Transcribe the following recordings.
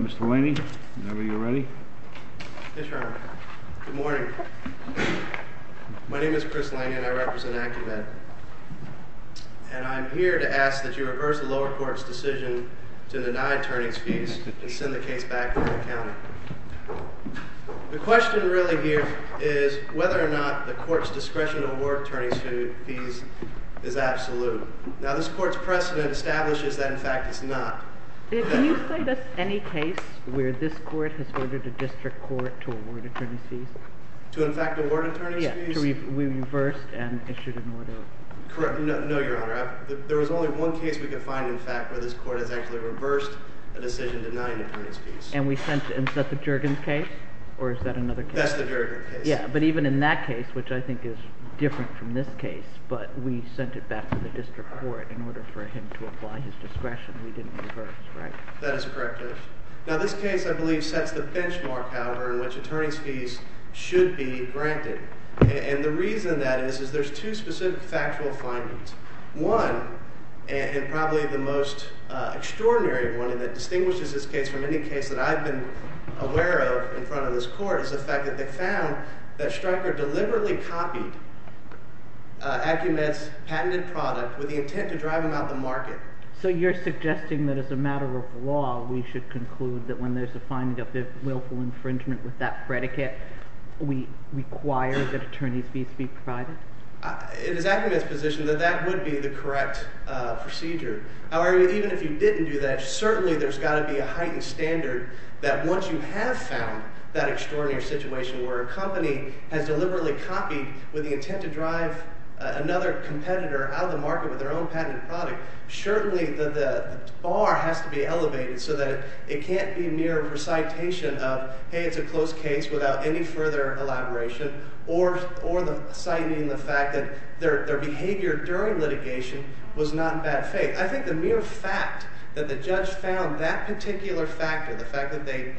Mr. Laney, whenever you're ready. Yes, Your Honor. Good morning. My name is Chris Laney, and I represent AccuMed. And I'm here to ask that you reverse the lower court's decision to deny attorneys' fees and send the case back to the county. The question really here is whether or not the court's discretion to award attorneys' fees is absolute. Now, this court's precedent establishes that, in fact, it's not. Can you cite us any case where this court has ordered a district court to award attorneys' fees? To, in fact, award attorneys' fees? Yes, to be reversed and issued an order. Correct. No, Your Honor. There was only one case we could find, in fact, where this court has actually reversed a decision denying attorneys' fees. And we sent it. Is that the Juergens case? Or is that another case? That's the Juergens case. Yeah, but even in that case, which I think is different from this case, but we sent it back to the district court in order for him to apply his discretion, we didn't reverse, right? That is correct, Your Honor. Now, this case, I believe, sets the benchmark, however, in which attorneys' fees should be granted. And the reason that is is there's two specific factual findings. One, and probably the most extraordinary one that distinguishes this case from any case that I've been aware of in front of this court, is the fact that they found that Stryker deliberately copied Acumen's patented product with the intent to drive him out of the market. So you're suggesting that as a matter of law, we should conclude that when there's a finding of willful infringement with that predicate, we require that attorneys' fees be provided? It is Acumen's position that that would be the correct procedure. However, even if you didn't do that, certainly there's got to be a heightened standard that once you have found that extraordinary situation where a company has deliberately copied with the intent to drive another competitor out of the market with their own patented product, certainly the bar has to be elevated so that it can't be mere recitation of, hey, it's a close case without any further elaboration, or citing the fact that their behavior during litigation was not in bad faith. I think the mere fact that the judge found that particular factor, the fact that they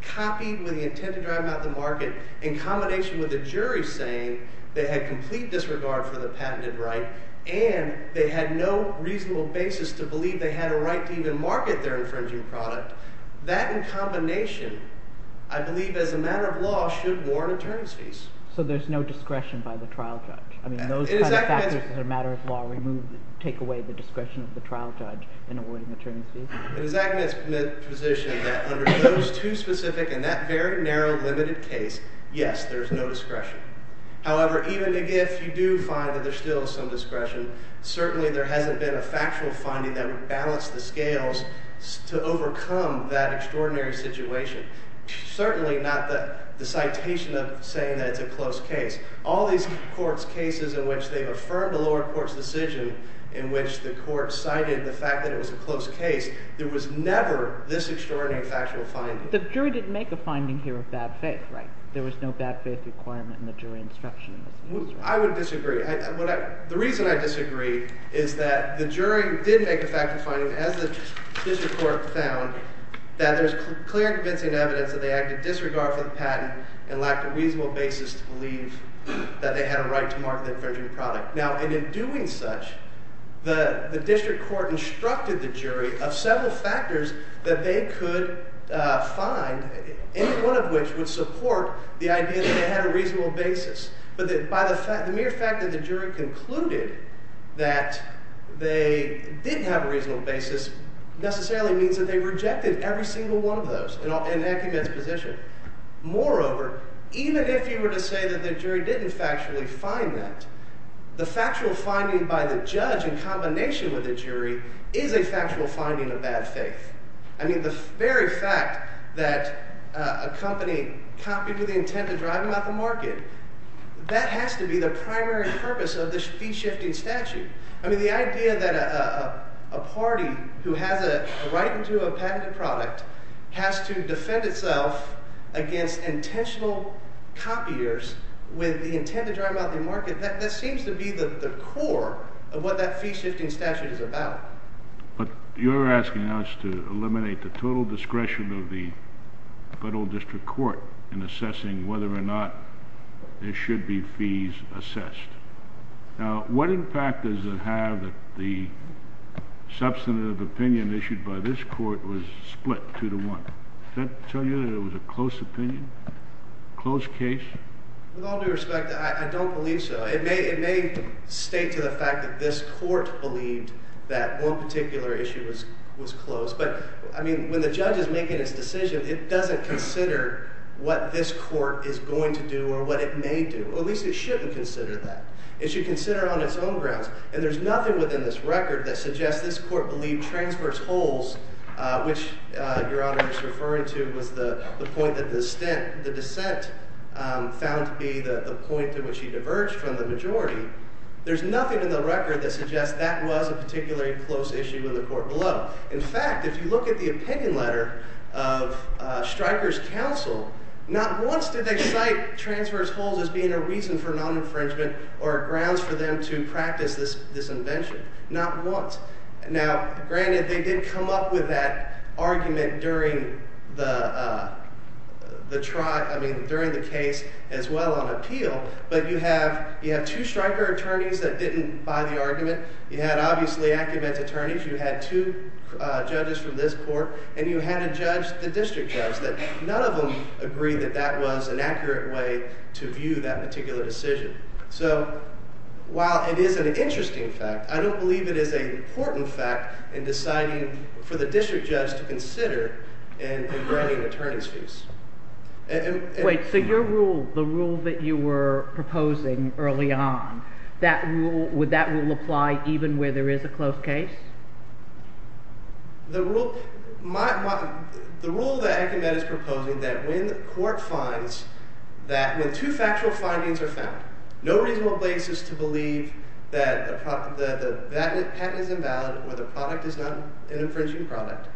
copied with the intent to drive him out of the market in combination with the jury saying they had complete disregard for the patented right and they had no reasonable basis to believe they had a right to even market their infringing product, that in combination, I believe as a matter of law, should warrant attorneys' fees. So there's no discretion by the trial judge? I mean, those kind of factors as a matter of law take away the discretion of the trial judge in awarding attorneys' fees? It is Acumen's position that under those two specific and that very narrow limited case, yes, there's no discretion. However, even if you do find that there's still some discretion, certainly there hasn't been a factual finding that would balance the scales to overcome that extraordinary situation. Certainly not the citation of saying that it's a close case. All these courts' cases in which they've affirmed a lower court's decision in which the court cited the fact that it was a close case, there was never this extraordinary factual finding. The jury didn't make a finding here of bad faith, right? There was no bad faith requirement in the jury instruction. I would disagree. The reason I disagree is that the jury did make a factual finding as the district court found that there's clear and convincing evidence that they acted disregard for the patent and lacked a reasonable basis to believe that they had a right to market the infringing product. Now, in doing such, the district court instructed the jury of several factors that they could find, any one of which would support the idea that they had a reasonable basis. But by the mere fact that the jury concluded that they didn't have a reasonable basis necessarily means that they rejected every single one of those in Acumen's position. Moreover, even if you were to say that the jury didn't factually find that, the factual finding by the judge in combination with the jury is a factual finding of bad faith. I mean the very fact that a company copied with the intent to drive them out the market, that has to be the primary purpose of the fee-shifting statute. I mean the idea that a party who has a right to a patented product has to defend itself against intentional copiers with the intent to drive them out the market, that seems to be the core of what that fee-shifting statute is about. But you're asking us to eliminate the total discretion of the federal district court in assessing whether or not there should be fees assessed. Now, what impact does it have that the substantive opinion issued by this court was split two to one? Does that tell you that it was a close opinion, close case? With all due respect, I don't believe so. It may state to the fact that this court believed that one particular issue was closed. But, I mean, when the judge is making his decision, it doesn't consider what this court is going to do or what it may do. Or at least it shouldn't consider that. It should consider it on its own grounds. And there's nothing within this record that suggests this court believed transverse holes, which Your Honor is referring to, was the point that the dissent found to be the point at which he diverged from the majority. There's nothing in the record that suggests that was a particularly close issue in the court below. In fact, if you look at the opinion letter of Stryker's counsel, not once did they cite transverse holes as being a reason for non-infringement or grounds for them to practice this invention. Not once. Now, granted, they did come up with that argument during the trial, I mean, during the case as well on appeal. But you have two Stryker attorneys that didn't buy the argument. You had, obviously, Acumen's attorneys. You had two judges from this court. And you had a judge, the district judge, that none of them agreed that that was an accurate way to view that particular decision. So, while it is an interesting fact, I don't believe it is an important fact in deciding for the district judge to consider in granting attorneys' fees. Wait. So your rule, the rule that you were proposing early on, that rule – would that rule apply even where there is a close case? The rule that Acumen is proposing, that when court finds that – when two factual findings are found, no reasonable basis to believe that the patent is invalid or the product is not an infringing product.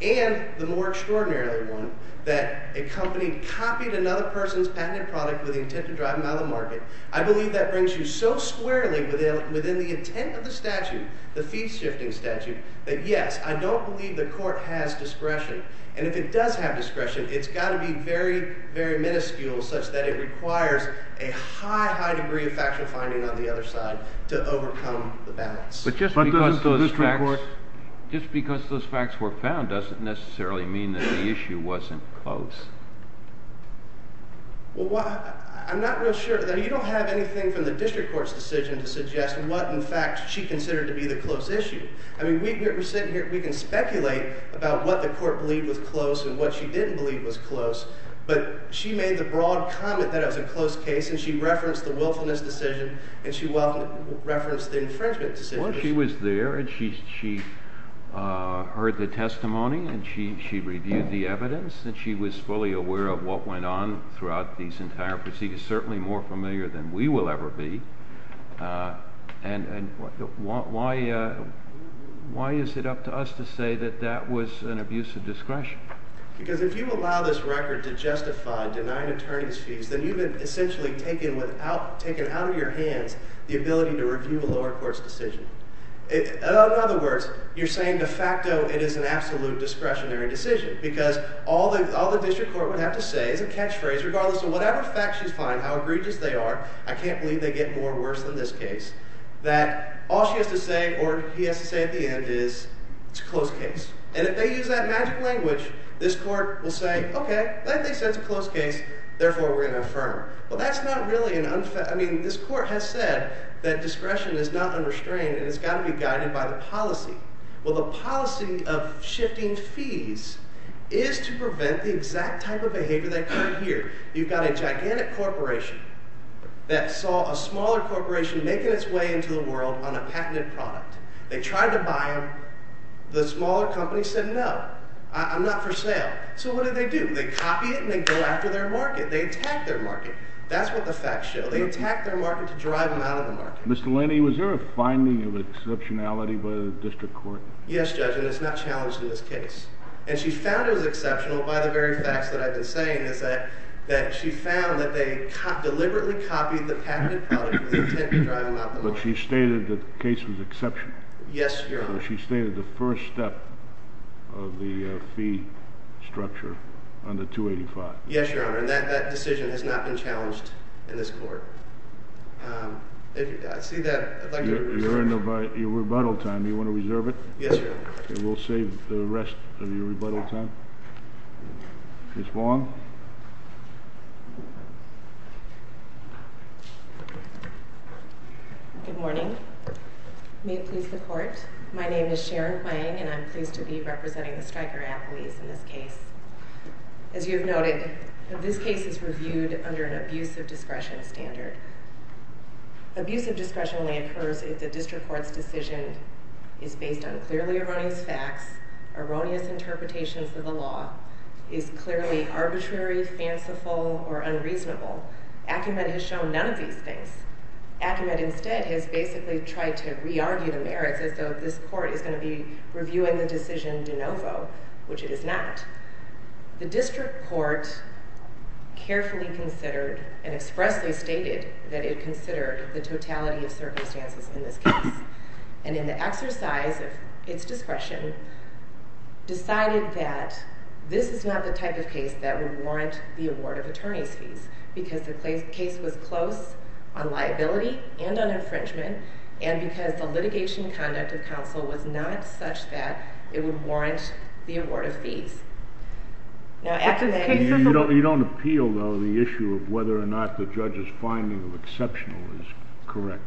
And the more extraordinary one, that a company copied another person's patented product with the intent to drive them out of the market. I believe that brings you so squarely within the intent of the statute, the fee-shifting statute, that, yes, I don't believe the court has discretion. And if it does have discretion, it's got to be very, very minuscule such that it requires a high, high degree of factual finding on the other side to overcome the balance. But just because those facts were found doesn't necessarily mean that the issue wasn't close. Well, I'm not real sure. I mean you don't have anything from the district court's decision to suggest what, in fact, she considered to be the close issue. I mean we're sitting here. We can speculate about what the court believed was close and what she didn't believe was close. But she made the broad comment that it was a close case, and she referenced the willfulness decision, and she referenced the infringement decision. Well, she was there, and she heard the testimony, and she reviewed the evidence, and she was fully aware of what went on throughout these entire proceedings, certainly more familiar than we will ever be. And why is it up to us to say that that was an abuse of discretion? Because if you allow this record to justify denying attorney's fees, then you've essentially taken out of your hands the ability to review a lower court's decision. In other words, you're saying de facto it is an absolute discretionary decision because all the district court would have to say is a catchphrase regardless of whatever facts she's finding, how egregious they are. I can't believe they get more worse than this case, that all she has to say or he has to say at the end is it's a close case. And if they use that magic language, this court will say, okay, that thing says it's a close case, therefore we're going to affirm. Well, that's not really an unfair – I mean this court has said that discretion is not unrestrained and it's got to be guided by the policy. Well, the policy of shifting fees is to prevent the exact type of behavior that occurred here. You've got a gigantic corporation that saw a smaller corporation making its way into the world on a patented product. They tried to buy them. The smaller company said no, I'm not for sale. So what did they do? They copy it and they go after their market. They attack their market. That's what the facts show. They attack their market to drive them out of the market. Mr. Laney, was there a finding of exceptionality by the district court? Yes, Judge, and it's not challenged in this case. And she found it was exceptional by the very facts that I've been saying is that she found that they deliberately copied the patented product with the intent to drive them out of the market. But she stated that the case was exceptional. Yes, Your Honor. She stated the first step of the fee structure on the 285. Yes, Your Honor, and that decision has not been challenged in this court. If you see that, I'd like to – You're in the rebuttal time. Do you want to reserve it? Yes, Your Honor. Okay, we'll save the rest of your rebuttal time. Ms. Vaughn. Good morning. May it please the Court, my name is Sharon Hwang, and I'm pleased to be representing the Stryker appellees in this case. As you have noted, this case is reviewed under an abusive discretion standard. Abusive discretion only occurs if the district court's decision is based on clearly erroneous facts, erroneous interpretations of the law, is clearly arbitrary, fanciful, or unreasonable. Acumen has shown none of these things. Acumen instead has basically tried to re-argue the merits as though this court is going to be reviewing the decision de novo, which it is not. The district court carefully considered and expressly stated that it considered the totality of circumstances in this case, and in the exercise of its discretion, decided that this is not the type of case that would warrant the award of attorney's fees, because the case was close on liability and on infringement, and because the litigation conduct of counsel was not such that it would warrant the award of fees. You don't appeal, though, the issue of whether or not the judge's finding of exceptional is correct.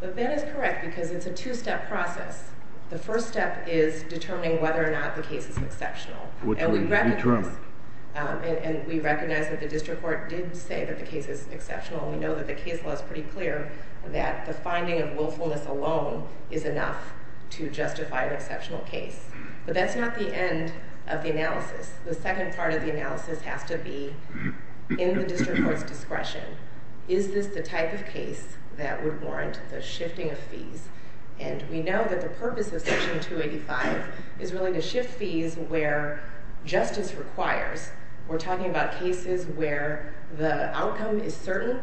That is correct, because it's a two-step process. The first step is determining whether or not the case is exceptional. Which was determined. And we recognize that the district court did say that the case is exceptional, and we know that the case law is pretty clear that the finding of willfulness alone is enough to justify an exceptional case. But that's not the end of the analysis. The second part of the analysis has to be, in the district court's discretion, is this the type of case that would warrant the shifting of fees? And we know that the purpose of Section 285 is really to shift fees where justice requires. We're talking about cases where the outcome is certain,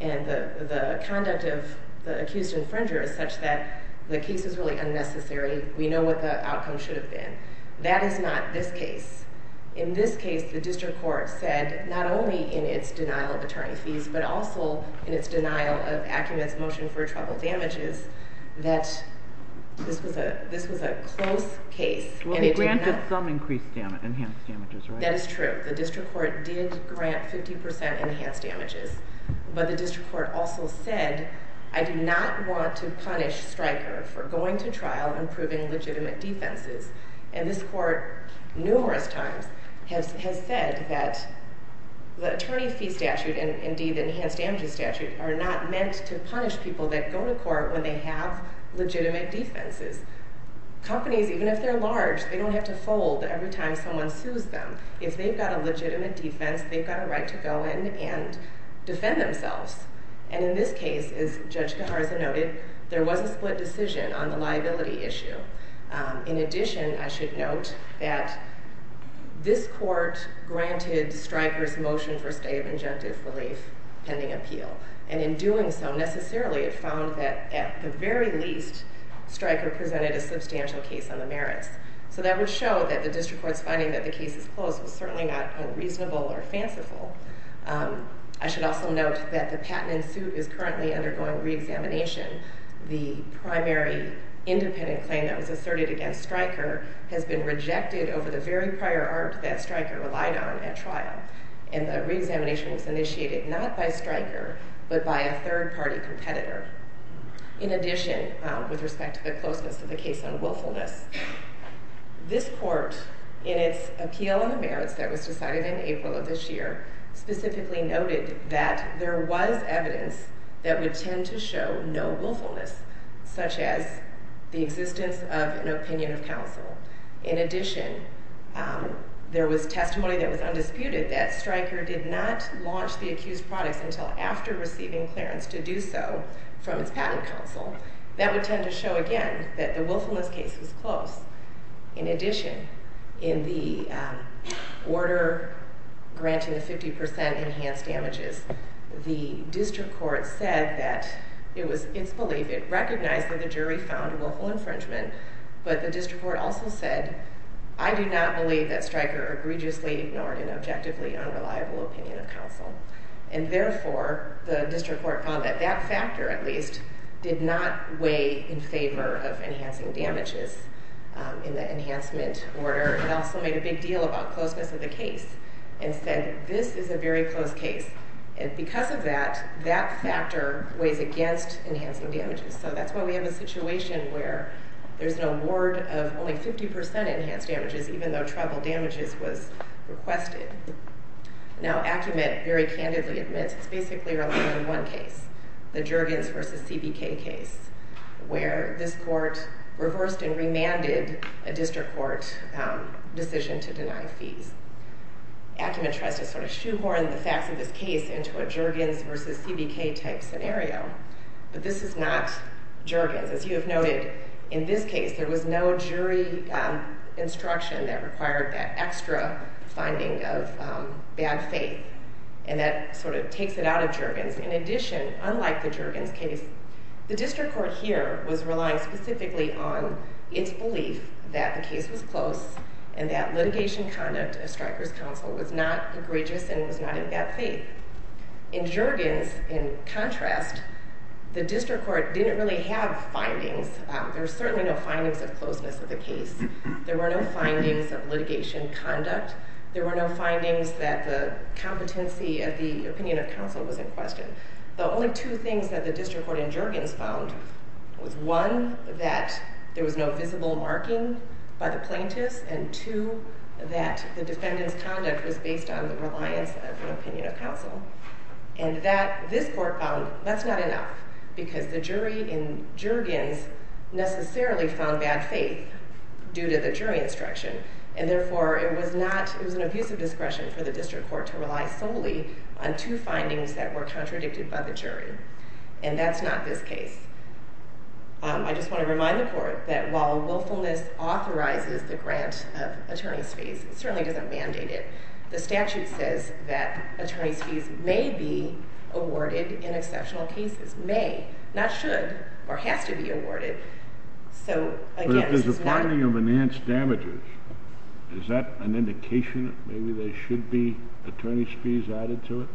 and the conduct of the accused infringer is such that the case is really unnecessary. We know what the outcome should have been. That is not this case. In this case, the district court said, not only in its denial of attorney's fees, but also in its denial of Acumen's motion for trouble damages, that this was a close case. Well, it granted some enhanced damages, right? That is true. The district court did grant 50% enhanced damages. But the district court also said, I do not want to punish Stryker for going to trial and proving legitimate defenses. And this court, numerous times, has said that the attorney fee statute and, indeed, the enhanced damages statute are not meant to punish people that go to court when they have legitimate defenses. Companies, even if they're large, they don't have to fold every time someone sues them. If they've got a legitimate defense, they've got a right to go in and defend themselves. And in this case, as Judge Gaharza noted, there was a split decision on the liability issue. In addition, I should note that this court granted Stryker's motion for stay of injunctive relief pending appeal. And in doing so, necessarily, it found that, at the very least, Stryker presented a substantial case on the merits. So that would show that the district court's finding that the case is closed was certainly not unreasonable or fanciful. I should also note that the patent in suit is currently undergoing reexamination. The primary independent claim that was asserted against Stryker has been rejected over the very prior art that Stryker relied on at trial. And the reexamination was initiated not by Stryker, but by a third-party competitor. In addition, with respect to the closeness of the case on willfulness, this court, in its appeal on the merits that was decided in April of this year, specifically noted that there was evidence that would tend to show no willfulness, In addition, there was testimony that was undisputed that Stryker did not launch the accused products until after receiving clearance to do so from its patent counsel. That would tend to show, again, that the willfulness case was closed. In addition, in the order granting a 50% enhanced damages, the district court said that it was its belief, it recognized that the jury found willful infringement, but the district court also said, I do not believe that Stryker egregiously ignored an objectively unreliable opinion of counsel. And therefore, the district court found that that factor, at least, did not weigh in favor of enhancing damages in the enhancement order. It also made a big deal about closeness of the case and said, this is a very close case, and because of that, that factor weighs against enhancing damages. So that's why we have a situation where there's an award of only 50% enhanced damages, even though treble damages was requested. Now, Acumen very candidly admits it's basically a one-on-one case, the Jurgens v. CBK case, where this court reversed and remanded a district court decision to deny fees. Acumen tries to sort of shoehorn the facts of this case into a Jurgens v. CBK type scenario, but this is not Jurgens. As you have noted, in this case, there was no jury instruction that required that extra finding of bad faith, and that sort of takes it out of Jurgens. In addition, unlike the Jurgens case, the district court here was relying specifically on its belief that the case was close and that litigation conduct of Stryker's counsel was not egregious and was not in bad faith. In Jurgens, in contrast, the district court didn't really have findings. There were certainly no findings of closeness of the case. There were no findings of litigation conduct. There were no findings that the competency of the opinion of counsel was in question. The only two things that the district court in Jurgens found was, one, that there was no visible marking by the plaintiffs, and two, that the defendant's conduct was based on the reliance of an opinion of counsel. And this court found that's not enough because the jury in Jurgens necessarily found bad faith due to the jury instruction, and therefore it was an abusive discretion for the district court to rely solely on two findings that were contradicted by the jury, and that's not this case. I just want to remind the court that while willfulness authorizes the grant of attorney's fees, it certainly doesn't mandate it. The statute says that attorney's fees may be awarded in exceptional cases. May, not should, or has to be awarded. So, again, this is not... But if there's a finding of enhanced damages, is that an indication that maybe there should be attorney's fees added to it?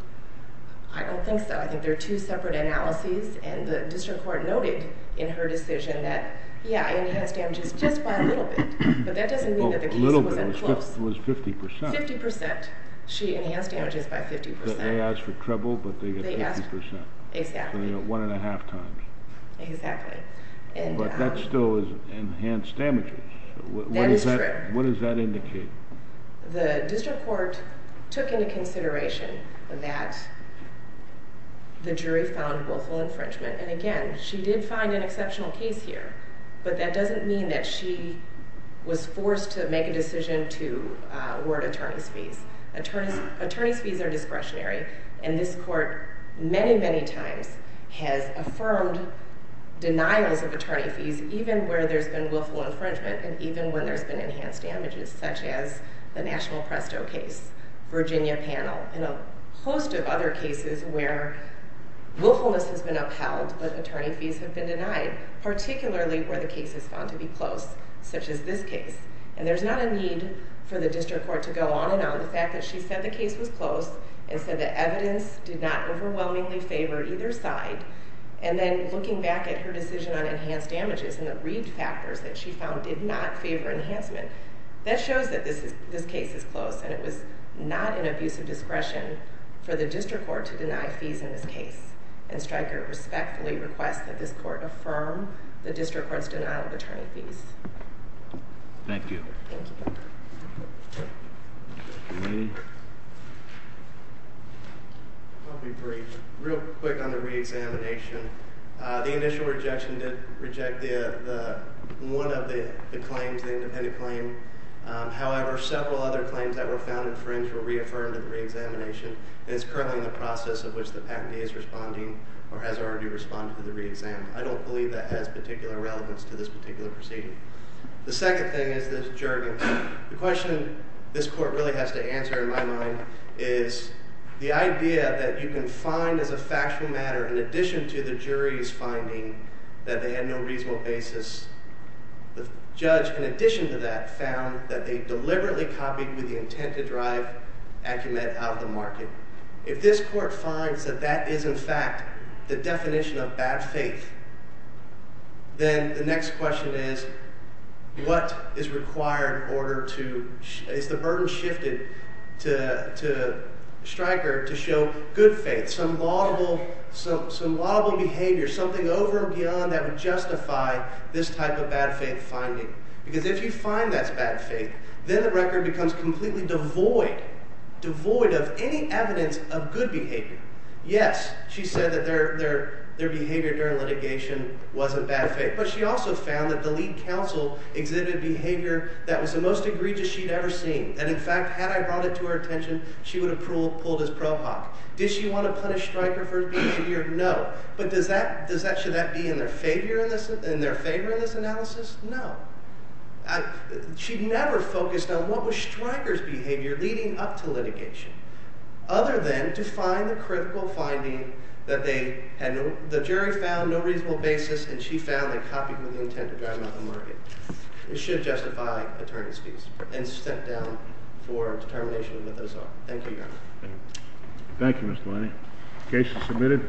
I don't think so. I think they're two separate analyses, and the district court noted in her decision that, yeah, enhanced damages just by a little bit, but that doesn't mean that the case wasn't close. A little bit. It was 50%. 50%. She enhanced damages by 50%. They asked for treble, but they got 50%. They asked, exactly. One and a half times. Exactly. But that still is enhanced damages. That is true. What does that indicate? The district court took into consideration that the jury found willful infringement. And, again, she did find an exceptional case here, but that doesn't mean that she was forced to make a decision to award attorney's fees. Attorney's fees are discretionary, and this court many, many times has affirmed denials of attorney fees, even where there's been willful infringement and even when there's been enhanced damages, such as the National Presto case, Virginia panel, and a host of other cases where willfulness has been upheld, but attorney fees have been denied, particularly where the case is found to be close, such as this case. And there's not a need for the district court to go on and on. The fact that she said the case was close and said the evidence did not overwhelmingly favor either side, and then looking back at her decision on enhanced damages and the read factors that she found did not favor enhancement, that shows that this case is close and it was not an abuse of discretion for the district court to deny fees in this case. And Stryker respectfully requests that this court affirm the district court's denial of attorney fees. Thank you. Thank you. You mean? I'll be brief. Real quick on the reexamination. The initial rejection did reject one of the claims, the independent claim. However, several other claims that were found infringed were reaffirmed in the reexamination, and it's currently in the process of which the patentee is responding or has already responded to the reexam. I don't believe that has particular relevance to this particular proceeding. The second thing is this jerking. The question this court really has to answer in my mind is the idea that you can find as a factual matter, in addition to the jury's finding that they had no reasonable basis, the judge, in addition to that, found that they deliberately copied with the intent to drive Acumet out of the market. If this court finds that that is, in fact, the definition of bad faith, then the next question is what is required in order to – is the burden shifted to Stryker to show good faith, some laudable behavior, something over and beyond that would justify this type of bad faith finding? Because if you find that's bad faith, then the record becomes completely devoid, devoid of any evidence of good behavior. Yes, she said that their behavior during litigation wasn't bad faith, but she also found that the lead counsel exhibited behavior that was the most egregious she'd ever seen, and, in fact, had I brought it to her attention, she would have pulled his ProHoc. Did she want to punish Stryker for his behavior? No. But does that – should that be in their favor in this analysis? No. She never focused on what was Stryker's behavior leading up to litigation, other than to find the critical finding that they had – the jury found no reasonable basis, and she found they copied with intent to drive him out of the market. It should justify attorney's fees and step down for determination of what those are. Thank you, Your Honor. Thank you, Mr. Leine. The case is submitted.